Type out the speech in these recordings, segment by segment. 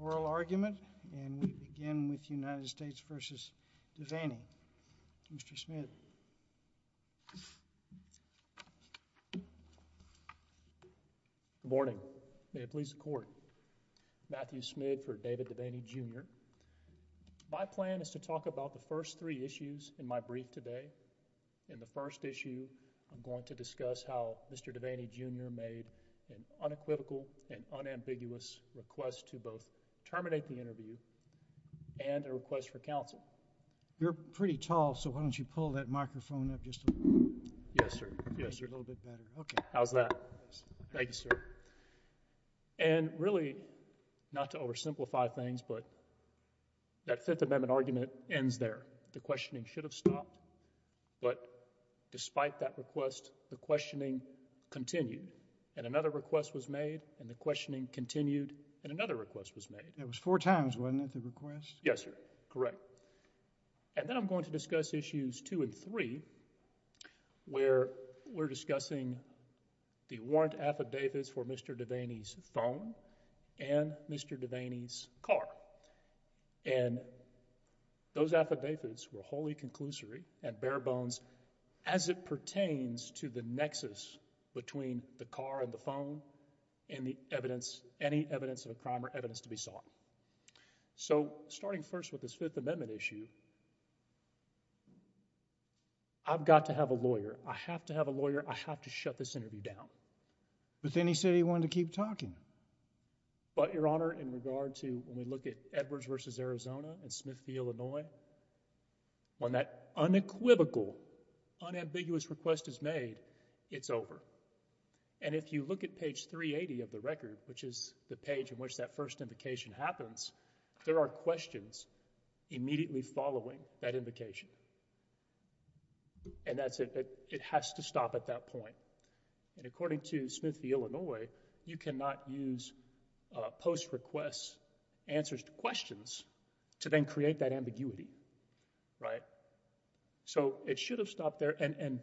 oral argument, and we begin with United States v. Devaney. Mr. Smith. Good morning. May it please the court. Matthew Smith for David Devaney Jr. My plan is to talk about the first three issues in my brief today. In the first issue, I'm going to discuss how Mr. Devaney Jr. made an unequivocal and unambiguous request to both terminate the interview and a request for counsel. You're pretty tall, so why don't you pull that microphone up just a little bit. Yes, sir. Yes, sir. A little bit better. Okay. How's that? Thanks, sir. And really, not to oversimplify things, but that Fifth Amendment argument ends there. The questioning should have stopped, but despite that request, the questioning continued, and another request was made, and the questioning continued, and another request was made. That was four times, wasn't it, the request? Yes, sir. Correct. And then I'm going to discuss issues two and three, where we're discussing the warrant affidavits for Mr. Devaney's phone and Mr. Devaney's car. And those affidavits were wholly conclusory and bare-bones as it pertains to the nexus between the car and the phone and any evidence of a crime or evidence to be sought. So, starting first with this Fifth Amendment issue, I've got to have a lawyer. I have to have a lawyer. I have to shut this interview down. But then he said he wanted to keep talking. But, Your Honor, in regard to when we look at Edwards v. Arizona and Smith v. Illinois, when that unequivocal, unambiguous request is made, it's over. And if you look at page 380 of the record, which is the page in which that first invocation happens, there are questions immediately following that invocation. And that's it. It has to stop at that point. And according to Smith v. Illinois, you cannot use post-request answers to questions to then create that ambiguity. So, it should have stopped there. And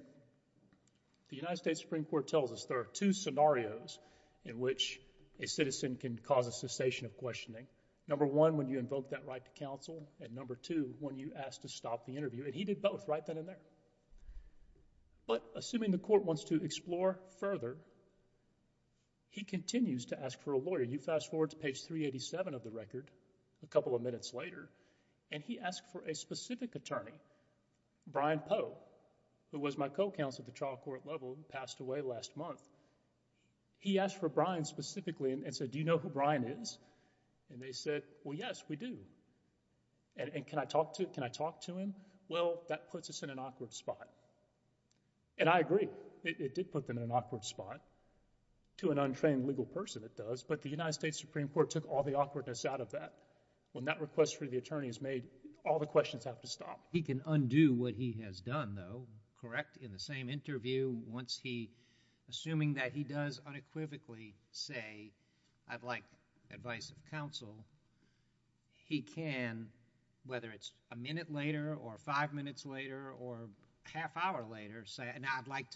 the United States Supreme Court tells us there are two scenarios in which a citizen can cause a cessation of questioning. Number one, when you invoke that right to counsel. And number two, when you ask to stop the interview. And he did both right then and there. But, assuming the court wants to explore further, he continues to ask for a lawyer. You fast forward to page 387 of the record, a couple of minutes later, and he asked for a specific attorney, Brian Poe, who was my co-counsel at the trial court level and passed away last month. He asked for Brian specifically and said, do you know who Brian is? And they said, well, yes, we do. And can I talk to him? Well, that puts us in an awkward spot. And I agree. It did put them in an awkward spot. To an untrained legal person, it does. But the United States Supreme Court took all the awkwardness out of that. When that request for the attorney is made, all the questions have to stop. He can undo what he has done, though, correct? In the same interview, once he, assuming that he does unequivocally say, I'd like advice of counsel, he can, whether it's a minute later or five minutes later or half hour later, say, I'd like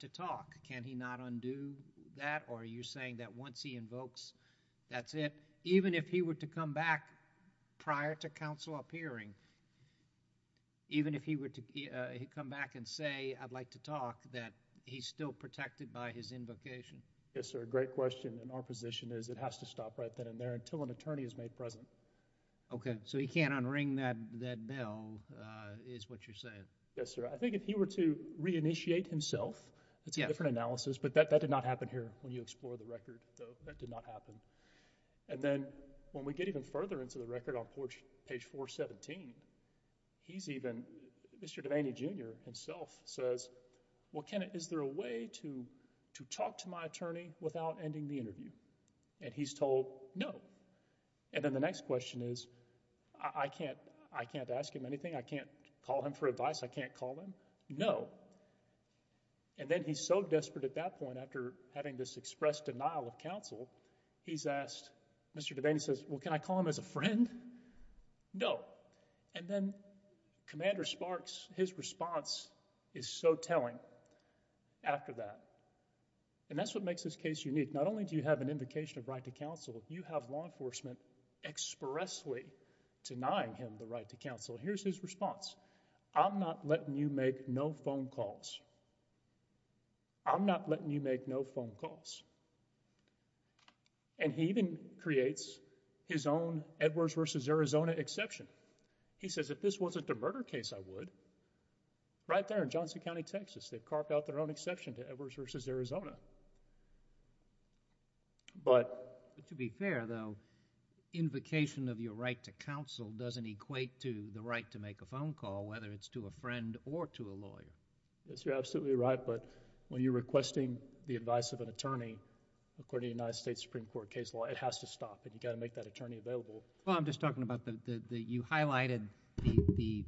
to talk. Can he not undo that? Or are you saying that once he invokes, that's it? Even if he were to come back prior to counsel appearing, even if he were to come back and say, I'd like to talk, that he's still protected by his invocation? Yes, sir. Great question. And our position is it has to stop right then and there until an attorney is made present. Okay. So he can't unring that bell is what you're saying. Yes, sir. I think if he were to reinitiate himself, it's a different analysis. But that did not happen here when you explore the record, though. That did not happen. And then when we get even further into the record on page 417, he's even, Mr. Devaney Jr. himself says, well, is there a way to talk to my attorney without ending the interview? And he's told, no. And then the next question is, I can't ask him anything. I can't call him for advice. I can't call him. No. And then he's so desperate at that point after having this expressed denial of counsel, he's asked, Mr. Devaney says, well, can I call him as a friend? No. And then Commander Sparks, his response is so telling after that. And that's what makes this case unique. Not only do you have an invocation of right to counsel, you have law enforcement expressly denying him the right to counsel. Here's his response. I'm not letting you make no phone calls. I'm not letting you make no phone calls. And he even creates his own Edwards v. Arizona exception. He says, if this wasn't a murder case, I would. Right there in Johnson County, Texas, they've carved out their own exception to Edwards v. Arizona. But... To be fair, though, invocation of your right to counsel doesn't equate to the right to make a phone call, whether it's to a friend or to a lawyer. Yes, you're absolutely right. But when you're requesting the advice of an attorney, according to the United States Supreme Court case law, it has to stop. And you've got to make that attorney available. Well, I'm just talking about that you highlighted the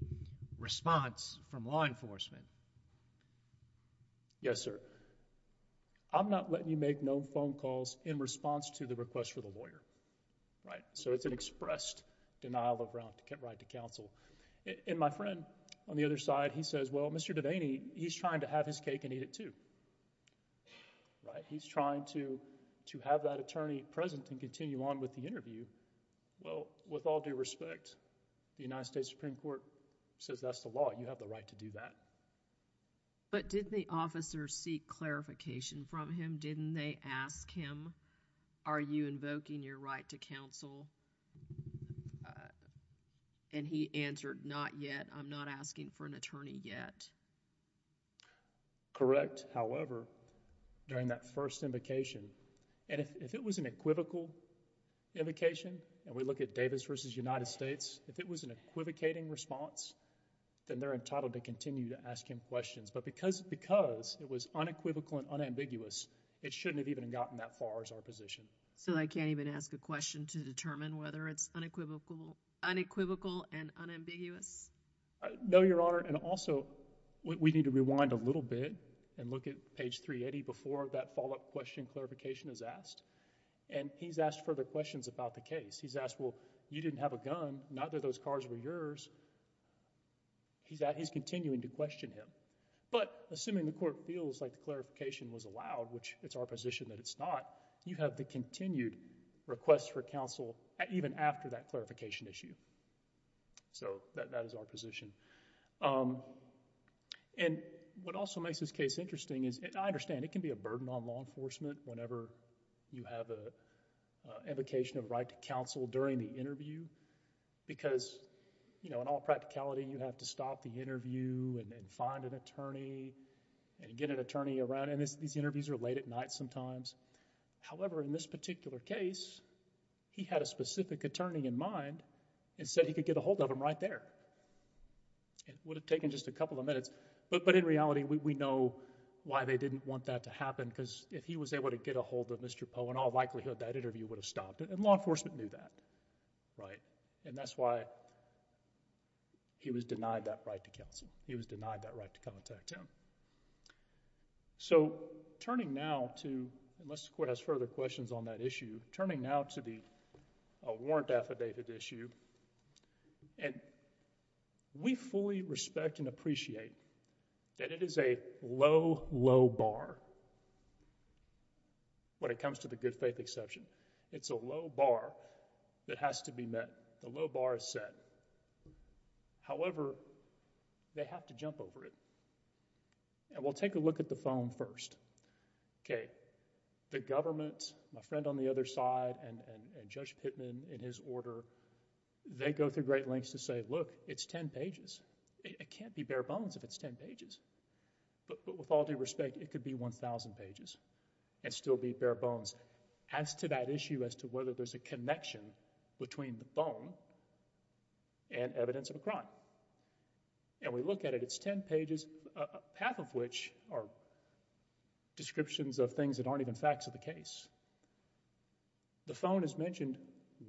response from law enforcement. Yes, sir. I'm not letting you make no phone calls in response to the request for the lawyer. Right? So it's an expressed denial of right to counsel. And my friend on the other side, he says, well, Mr. Devaney, he's trying to have his cake and eat it, too. Right? He's trying to have that attorney present and continue on with the interview. Well, with all due respect, the United States Supreme Court says that's the law. You have the right to do that. But didn't the officer seek clarification from him? Didn't they ask him, are you invoking your right to counsel? And he answered, not yet. I'm not asking for an attorney yet. Correct. However, during that first invocation, and if it was an equivocal invocation, and we look at Davis versus United States, if it was an equivocating response, then they're entitled to continue to ask him questions. But because it was unequivocal and unambiguous, it shouldn't have even gotten that far as our position. So I can't even ask a question to determine whether it's unequivocal and unambiguous? No, Your Honor. And also, we need to rewind a little bit and look at page 380 before that follow-up question clarification is asked. And he's asked further questions about the case. He's asked, well, you didn't have a gun. Neither of those cars were yours. He's continuing to question him. But assuming the court feels like the clarification was allowed, which it's our position that it's not, you have the continued request for counsel even after that clarification issue. So that is our position. And what also makes this case interesting is, and I understand, it can be a burden on law enforcement whenever you have an invocation of right to counsel during the interview, because in all practicality, you have to stop the interview and find an attorney and get an attorney around. And these interviews are late at night sometimes. However, in this particular case, he had a specific attorney in mind and said he could get a hold of him right there. It would have taken just a couple of minutes. But in reality, we know why they didn't want that to happen because if he was able to get a hold of Mr. Poe, in all likelihood, that interview would have stopped. And law enforcement knew that. And that's why he was denied that right to counsel. He was denied that right to contact him. So turning now to, unless the court has further questions on that issue, turning now to the warrant affidavit issue. And we fully respect and appreciate that it is a low, low bar when it comes to the good faith exception. It's a low bar that has to be met. The low bar is set. However, they have to jump over it. And we'll take a look at the phone first. Okay. The government, my friend on the other side, and Judge Pittman in his order, they go through great lengths to say, look, it's 10 pages. It can't be bare bones if it's 10 pages. But with all due respect, it could be 1,000 pages and still be bare bones. As to that issue as to whether there's a connection between the phone and evidence of a crime. And we look at it, it's 10 pages, half of which are descriptions of things that aren't even facts of the case. The phone is mentioned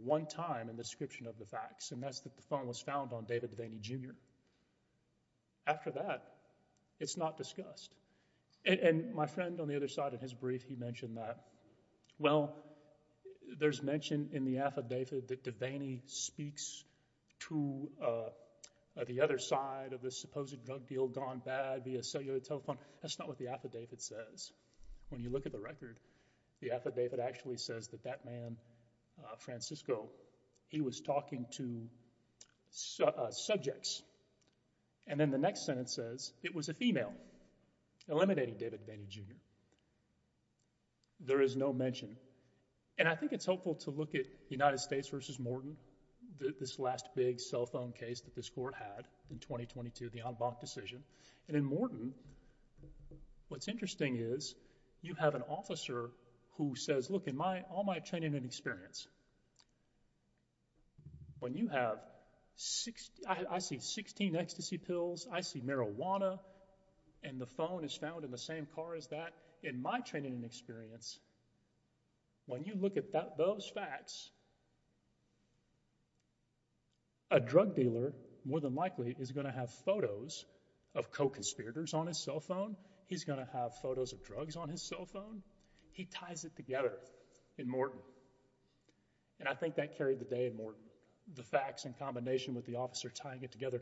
one time in the description of the facts, and that's that the phone was found on David Devaney, Jr. After that, it's not discussed. And my friend on the other side in his brief, he mentioned that. Well, there's mention in the affidavit that Devaney speaks to the other side of the supposed drug deal gone bad via cellular telephone. That's not what the affidavit says. When you look at the record, the affidavit actually says that that man, Francisco, he was talking to subjects. And then the next sentence says it was a female, eliminating David Devaney, Jr. There is no mention. And I think it's helpful to look at United States v. Morton, this last big cell phone case that this court had in 2022, the en banc decision. And in Morton, what's interesting is you have an officer who says, look, in all my training and experience, when you have, I see 16 ecstasy pills, I see marijuana, and the phone is found in the same car as that. In my training and experience, when you look at those facts, a drug dealer more than likely is going to have photos of co-conspirators on his cell phone. He's going to have photos of drugs on his cell phone. He ties it together in Morton. And I think that carried the day in Morton. The facts in combination with the officer tying it together,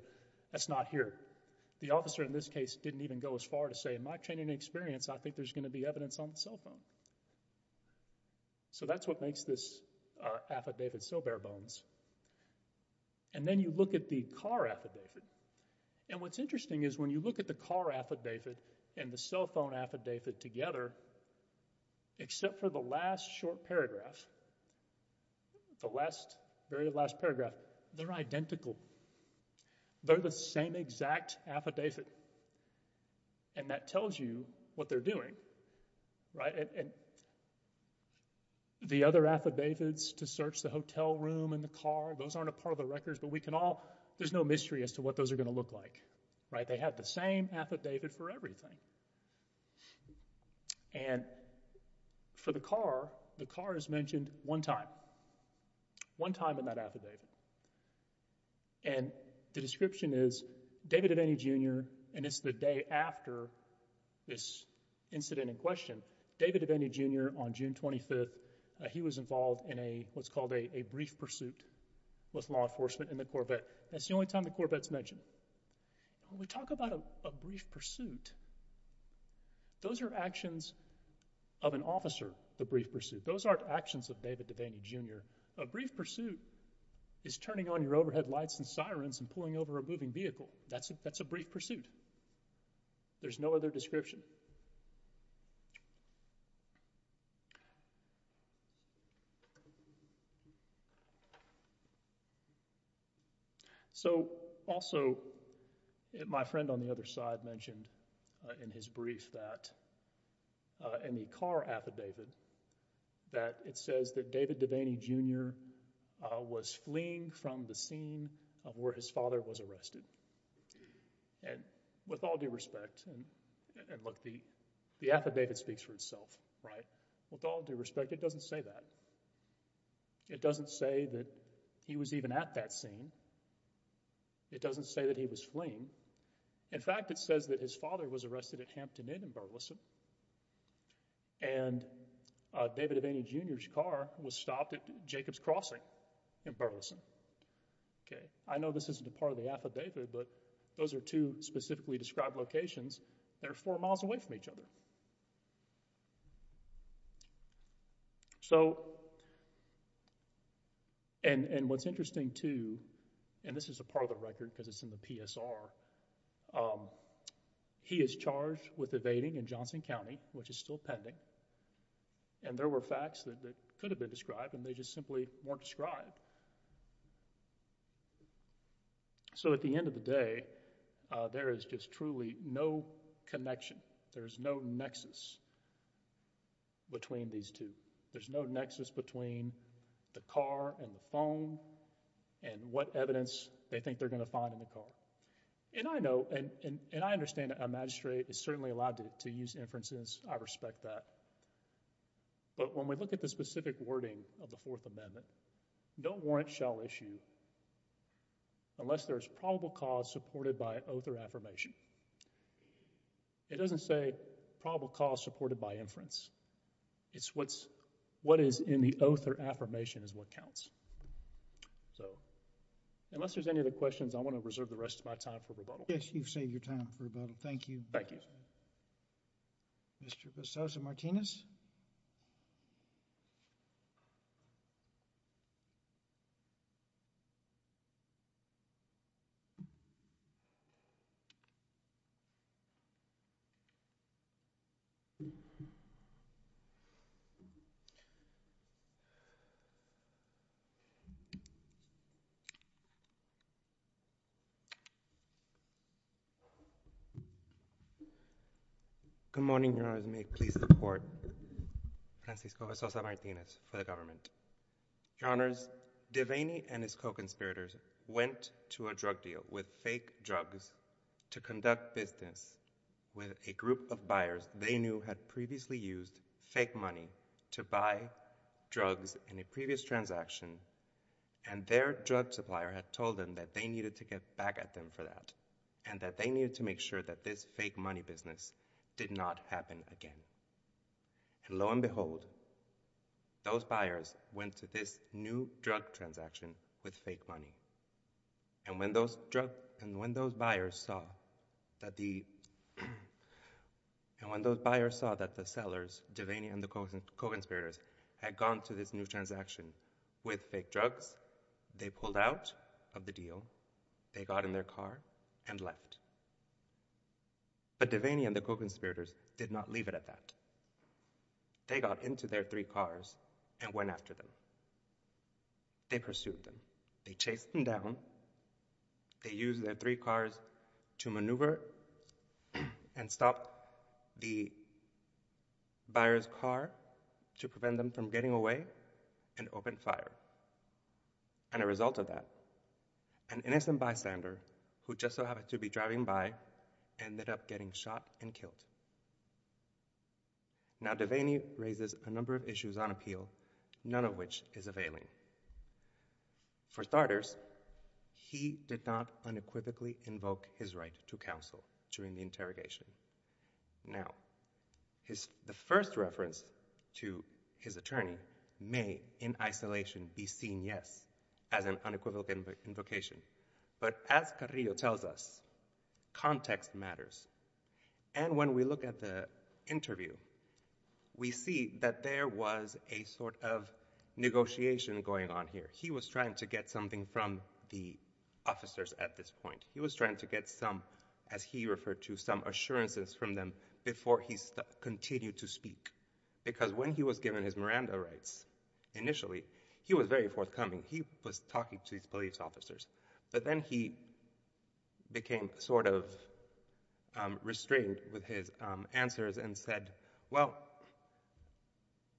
that's not here. The officer in this case didn't even go as far to say, in my training and experience, I think there's going to be evidence on the cell phone. So that's what makes this affidavit so bare bones. And then you look at the car affidavit. And what's interesting is when you look at the car affidavit and the cell phone affidavit together, except for the last short paragraph, the last, very last paragraph, they're identical. They're the same exact affidavit. And that tells you what they're doing, right? And the other affidavits to search the hotel room and the car, those aren't a part of the records, but we can all, there's no mystery as to what those are going to look like, right? But they have the same affidavit for everything. And for the car, the car is mentioned one time, one time in that affidavit. And the description is, David Aveni, Jr., and it's the day after this incident in question, David Aveni, Jr., on June 25th, he was involved in what's called a brief pursuit with law enforcement in the Corvette. That's the only time the Corvette's mentioned. When we talk about a brief pursuit, those are actions of an officer, the brief pursuit. Those aren't actions of David Aveni, Jr. A brief pursuit is turning on your overhead lights and sirens and pulling over a moving vehicle. That's a brief pursuit. There's no other description. So, also, my friend on the other side mentioned in his brief that, in the car affidavit, that it says that David Aveni, Jr. was fleeing from the scene of where his father was arrested. And with all due respect, and look, the affidavit speaks for itself, right? With all due respect, it doesn't say that. It doesn't say that he was even at that scene. It doesn't say that he was fleeing. In fact, it says that his father was arrested at Hampton Inn in Burleson and David Aveni, Jr.'s car was stopped at Jacobs Crossing in Burleson. I know this isn't a part of the affidavit, but those are two specifically described locations. They're four miles away from each other. So, and what's interesting too, and this is a part of the record because it's in the PSR, he is charged with evading in Johnson County, which is still pending, and there were facts that could have been described and they just simply weren't described. So, at the end of the day, there is just truly no connection. There's no nexus between these two. There's no nexus between the car and the phone and what evidence they think they're going to find in the car. And I know, and I understand a magistrate is certainly allowed to use inferences. I respect that. But when we look at the specific wording of the Fourth Amendment, no warrant shall issue unless there is probable cause supported by oath or affirmation. It doesn't say probable cause supported by inference. It's what is in the oath or affirmation is what counts. So, unless there's any other questions, I want to reserve the rest of my time for rebuttal. Yes, you've saved your time for rebuttal. Thank you. Thank you. Mr. Vassoso-Martinez? Good morning, Your Honors. May it please the Court. Francisco Vassoso-Martinez for the government. Your Honors, Devaney and his co-conspirators went to a drug deal with fake drugs to conduct business with a group of buyers they knew had previously used fake money to buy drugs in a previous transaction and their drug supplier had told them that they needed to get back at them for that and that they needed to make sure that this fake money business did not happen again. And lo and behold, those buyers went to this new drug transaction with fake money. And when those buyers saw that the sellers, Devaney and the co-conspirators, had gone to this new transaction with fake drugs, they pulled out of the deal, they got in their car and left. But Devaney and the co-conspirators did not leave it at that. They got into their three cars and went after them. They pursued them. They chased them down. They used their three cars to maneuver and stop the buyer's car to prevent them from getting away and opened fire. And as a result of that, an innocent bystander, who just so happened to be driving by, ended up getting shot and killed. Now Devaney raises a number of issues on appeal, none of which is availing. For starters, he did not unequivocally invoke his right to counsel during the interrogation. Now, the first reference to his attorney may, in isolation, be seen, yes, as an unequivocal invocation. But as Carrillo tells us, context matters. And when we look at the interview, we see that there was a sort of negotiation going on here. He was trying to get something from the officers at this point. He was trying to get some, as he referred to, some assurances from them before he continued to speak. Because when he was given his Miranda rights initially, he was very forthcoming. He was talking to these police officers. But then he became sort of restrained with his answers and said, well,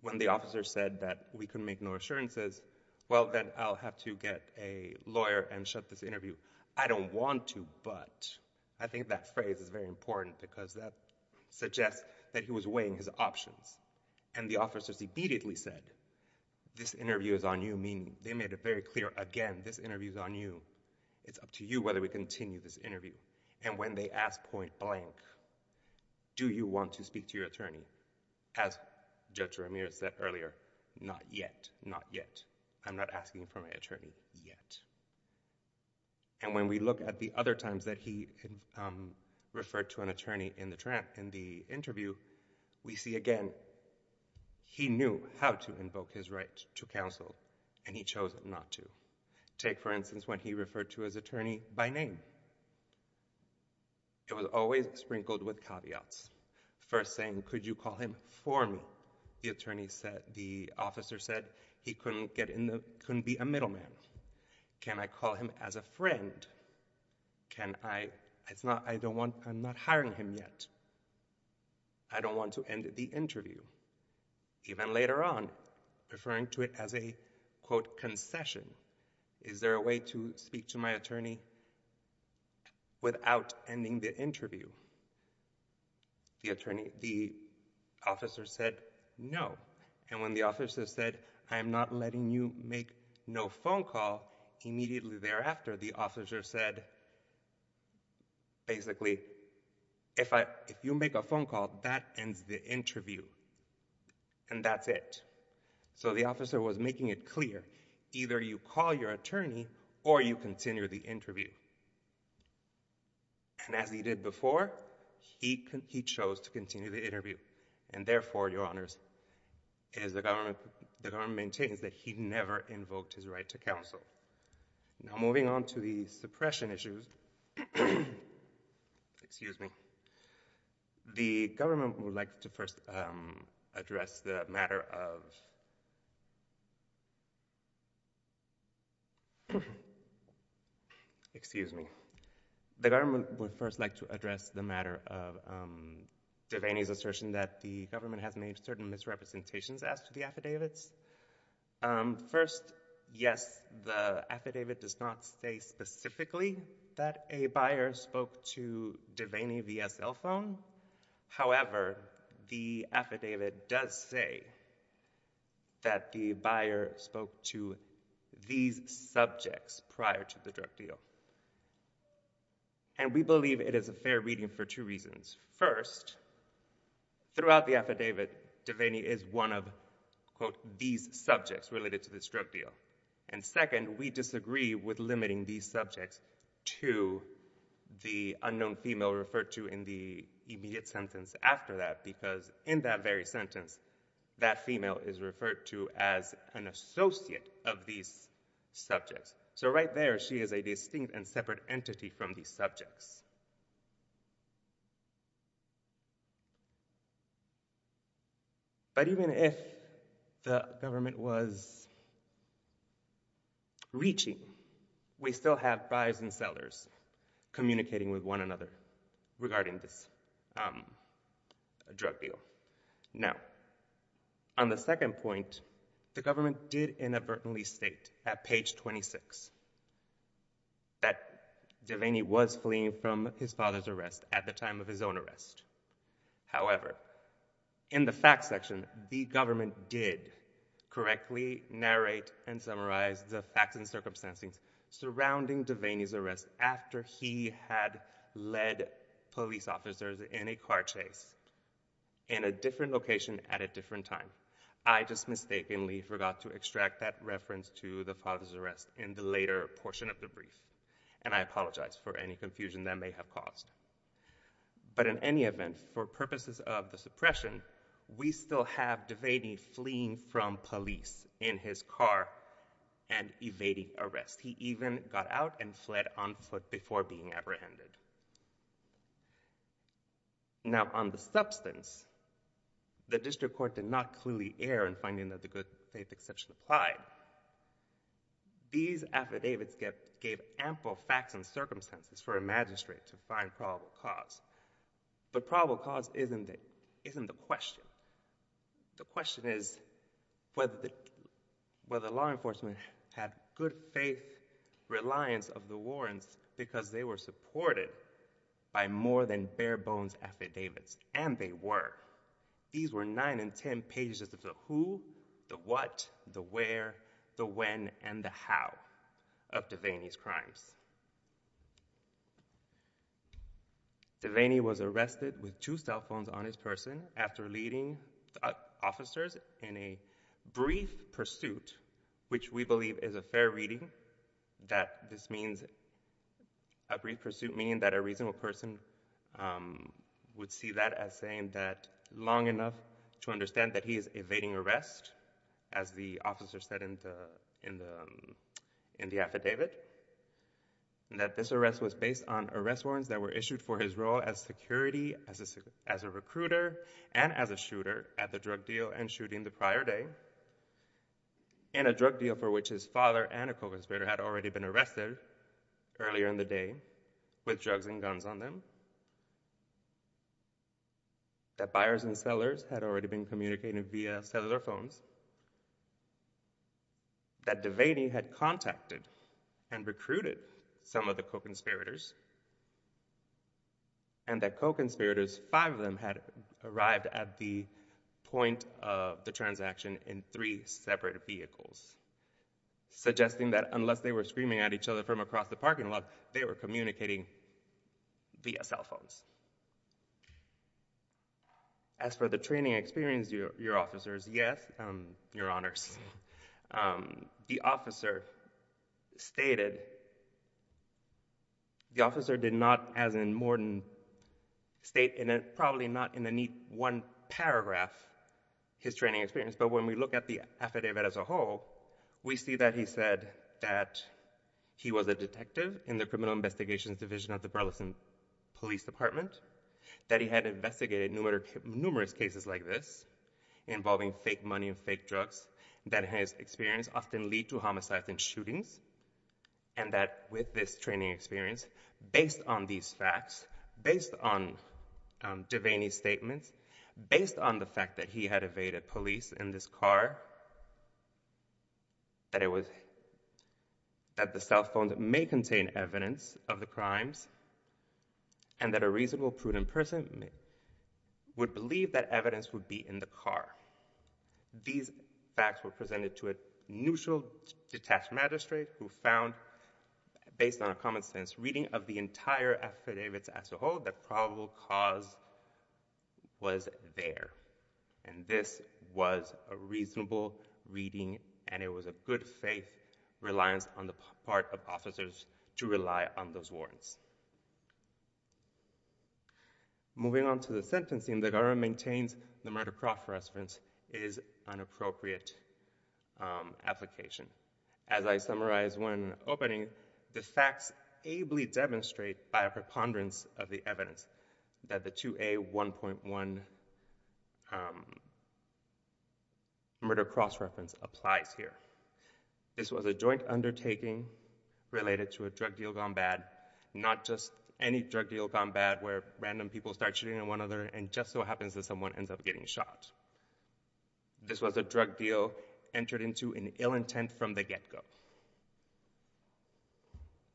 when the officer said that we can make no assurances, well, then I'll have to get a lawyer and shut this interview. I don't want to, but I think that phrase is very important because that suggests that he was weighing his options. And the officers immediately said, this interview is on you, meaning they made it very clear again, this interview is on you. It's up to you whether we continue this interview. And when they asked point blank, do you want to speak to your attorney? As Judge Ramirez said earlier, not yet, not yet. I'm not asking for my attorney yet. And when we look at the other times that he referred to an attorney in the interview, we see again, he knew how to invoke his right to counsel, and he chose not to. Take, for instance, when he referred to his attorney by name. It was always sprinkled with caveats. First saying, could you call him for me? The officer said, he couldn't be a middleman. Can I call him as a friend? I'm not hiring him yet. I don't want to end the interview. Even later on, referring to it as a, quote, concession. Is there a way to speak to my attorney without ending the interview? The attorney, the officer said, no. And when the officer said, I am not letting you make no phone call, immediately thereafter, the officer said, basically, if you make a phone call, that ends the interview. And that's it. So the officer was making it clear. Either you call your attorney, or you continue the interview. And as he did before, he chose to continue the interview. And therefore, your honors, as the government maintains, that he never invoked his right to counsel. Now, moving on to the suppression issues. Excuse me. The government would like to first address the matter of DeVaney's assertion that the government has made certain misrepresentations as to the affidavits. First, yes, the affidavit does not say specifically that a buyer spoke to DeVaney via cell phone. However, the affidavit does say that the buyer spoke to DeVaney and the buyer spoke to these subjects prior to the drug deal. And we believe it is a fair reading for two reasons. First, throughout the affidavit, DeVaney is one of, quote, these subjects related to this drug deal. And second, we disagree with limiting these subjects to the unknown female referred to in the immediate sentence after that, because in that very sentence, that female is referred to as an associate of these subjects. So right there, she is a distinct and separate entity from these subjects. But even if the government was reaching, we still have buyers and sellers communicating with one another regarding this drug deal. Now, on the second point, the government did inadvertently state, at page 26, that DeVaney was fleeing from his father's arrest at the time of his own arrest. However, in the facts section, the government did correctly narrate and summarize the facts and circumstances surrounding DeVaney's arrest after he had led police officers in a car chase in a different location at a different time. I just mistakenly forgot to extract that reference to the father's arrest in the later portion of the brief, and I apologize for any confusion that may have caused. But in any event, for purposes of the suppression, we still have DeVaney fleeing from police in his car and evading arrest. He even got out and fled on foot before being apprehended. Now, on the substance, the district court did not clearly err in finding that the good-faith exception applied. These affidavits gave ample facts and circumstances for a magistrate to find probable cause. But probable cause isn't the question. The question is whether law enforcement had good-faith reliance of the warrants because they were supported by more than bare-bones affidavits, and they were. These were 9 and 10 pages of the who, the what, the where, the when, and the how of DeVaney's crimes. DeVaney was arrested with two cell phones on his person after leading officers in a brief pursuit, which we believe is a fair reading. This means a brief pursuit meaning that a reasonable person would see that as saying that long enough to understand that he is evading arrest, as the officer said in the affidavit, and that this arrest was based on arrest warrants that were issued for his role as security, as a recruiter, and as a shooter at the drug deal and shooting the prior day, and a drug deal for which his father and a co-conspirator had already been arrested earlier in the day with drugs and guns on them, that buyers and sellers had already been communicated via cellular phones, that DeVaney had contacted and recruited some of the co-conspirators, and that co-conspirators, five of them, had arrived at the point of the transaction in three separate vehicles, suggesting that unless they were screaming at each other from across the parking lot, they were communicating via cell phones. As for the training experience, your officers, yes, your honors, the officer stated, the officer did not, as in Morton State, and probably not in the neat one paragraph, his training experience, but when we look at the affidavit as a whole, we see that he said that he was a detective in the Criminal Investigations Division of the Burleson Police Department, that he had investigated numerous cases like this involving fake money and fake drugs, that his experience often lead to homicides and shootings, and that with this training experience, based on these facts, based on DeVaney's statements, based on the fact that he had evaded police in this car, that the cell phones may contain evidence of the crimes, and that a reasonable, prudent person would believe that evidence would be in the car. These facts were presented to a neutral, detached magistrate who found, based on a common sense reading of the entire affidavit as a whole, that probable cause was there, and this was a reasonable reading, and it was a good faith reliance on the part of officers to rely on those warrants. Moving on to the sentencing, the government maintains the murder cross-reference is an appropriate application. As I summarized when opening, the facts ably demonstrate by a preponderance of the evidence that the 2A1.1 murder cross-reference applies here. This was a joint undertaking related to a drug deal gone bad, not just any drug deal gone bad where random people start shooting at one another and just so happens that someone ends up getting shot. This was a drug deal entered into in ill intent from the get-go.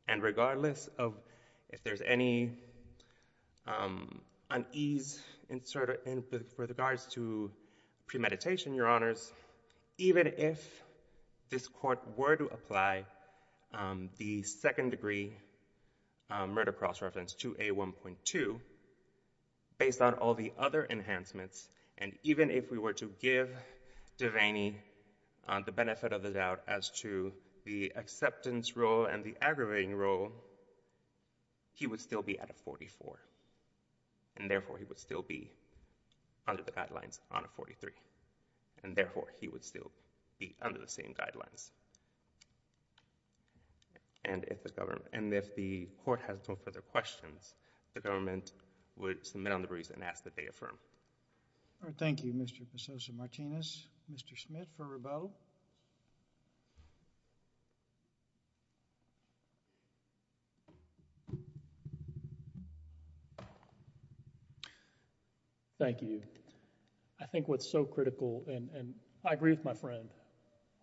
And regardless of if there's any unease in regards to premeditation, Your Honors, even if this court were to apply the second-degree murder cross-reference 2A1.2 based on all the other enhancements, and even if we were to give Devaney the benefit of the doubt as to the acceptance role and the aggravating role, he would still be at a 44, and therefore he would still be under the guidelines on a 43, and therefore he would still be under the same guidelines. And if the court has no further questions, the government would submit on the briefs and ask that they affirm. All right, thank you, Mr. Pososa-Martinez. Mr. Schmidt for Rabeau? Thank you. I think what's so critical, and I agree with my friend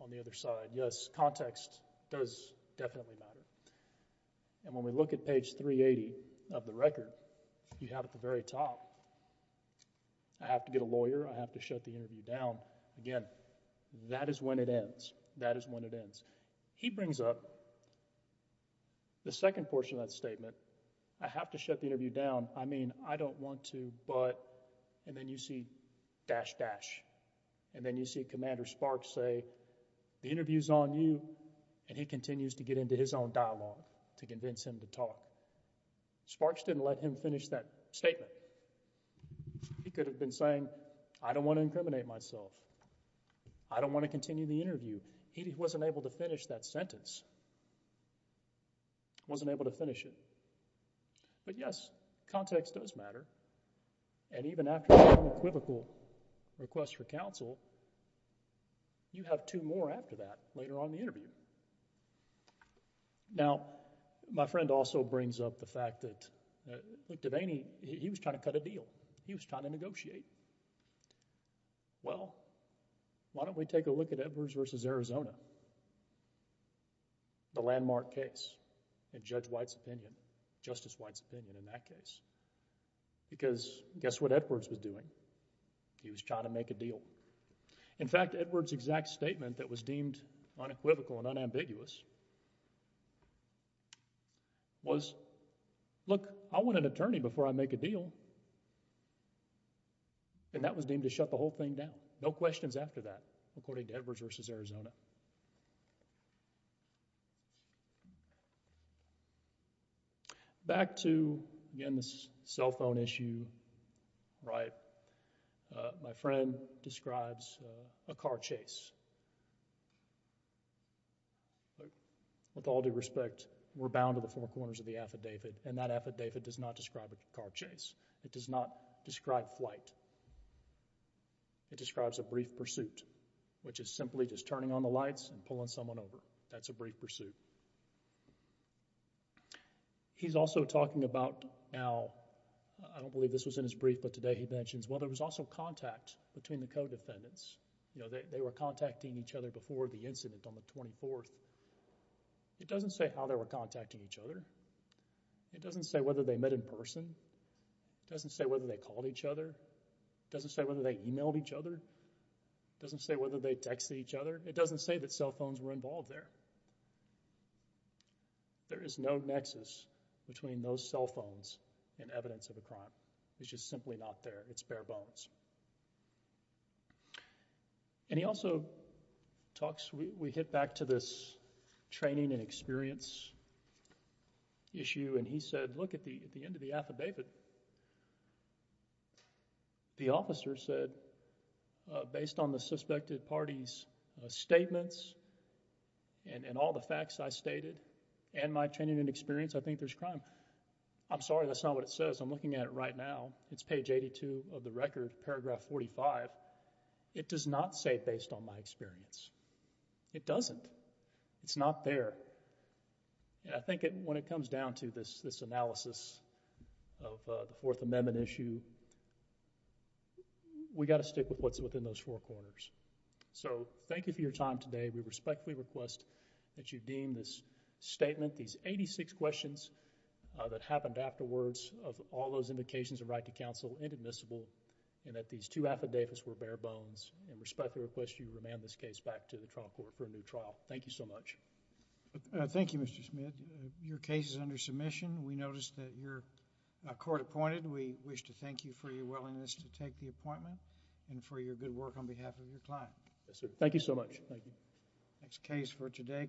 on the other side, yes, context does definitely matter. And when we look at page 380 of the record, you have at the very top, I have to get a lawyer, I have to shut the interview down. Again, that is when it ends. That is when it ends. He brings up the second portion of that statement, I have to shut the interview down. I mean, I don't want to, but... And then you see dash, dash. And then you see Commander Sparks say, the interview's on you, and he continues to get into his own dialogue to convince him to talk. Sparks didn't let him finish that statement. He could have been saying, I don't want to incriminate myself. I don't want to continue the interview. He wasn't able to finish that sentence. Wasn't able to finish it. But yes, context does matter. And even after the unequivocal request for counsel, you have two more after that later on in the interview. Now, my friend also brings up the fact that, look, Devaney, he was trying to cut a deal. He was trying to negotiate. Well, why don't we take a look at Edwards v. Arizona? The landmark case in Judge White's opinion, Justice White's opinion in that case. Because guess what Edwards was doing? He was trying to make a deal. In fact, Edwards' exact statement that was deemed unequivocal and unambiguous was, look, I want an attorney before I make a deal. And that was deemed to shut the whole thing down. No questions after that, according to Edwards v. Arizona. Back to, again, this cell phone issue, right? My friend describes a car chase. With all due respect, we're bound to the four corners of the affidavit, and that affidavit does not describe a car chase. It does not describe flight. It describes a brief pursuit, which is simply just turning on the lights and pulling someone over. That's a brief pursuit. He's also talking about, now, I don't believe this was in his brief, but today he mentions, well, there was also contact between the co-defendants. You know, they were contacting each other before the incident on the 24th. It doesn't say how they were contacting each other. It doesn't say whether they met in person. It doesn't say whether they called each other. It doesn't say whether they emailed each other. It doesn't say whether they texted each other. It doesn't say that cell phones were involved there. There is no nexus between those cell phones and evidence of a crime. It's just simply not there. It's bare bones. And he also talks, we hit back to this training and experience issue, and he said, look, at the end of the affidavit, the officer said, based on the suspected party's statements and all the facts I stated and my training and experience, I think there's crime. I'm sorry that's not what it says. I'm looking at it right now. It's page 82 of the record, paragraph 45. It does not say based on my experience. It doesn't. It's not there. And I think when it comes down to this analysis of the Fourth Amendment issue, we got to stick with what's within those four corners. So thank you for your time today. We respectfully request that you deem this statement, these 86 questions that happened afterwards of all those indications of right to counsel inadmissible and that these two affidavits were bare bones and respectfully request you remand this case back to the trial court for a new trial. Thank you so much. Thank you, Mr. Smith. Your case is under submission. We noticed that you're court appointed. We wish to thank you for your willingness to take the appointment and for your good work on behalf of your client. Yes, sir. Thank you so much. Thank you. Next case for today.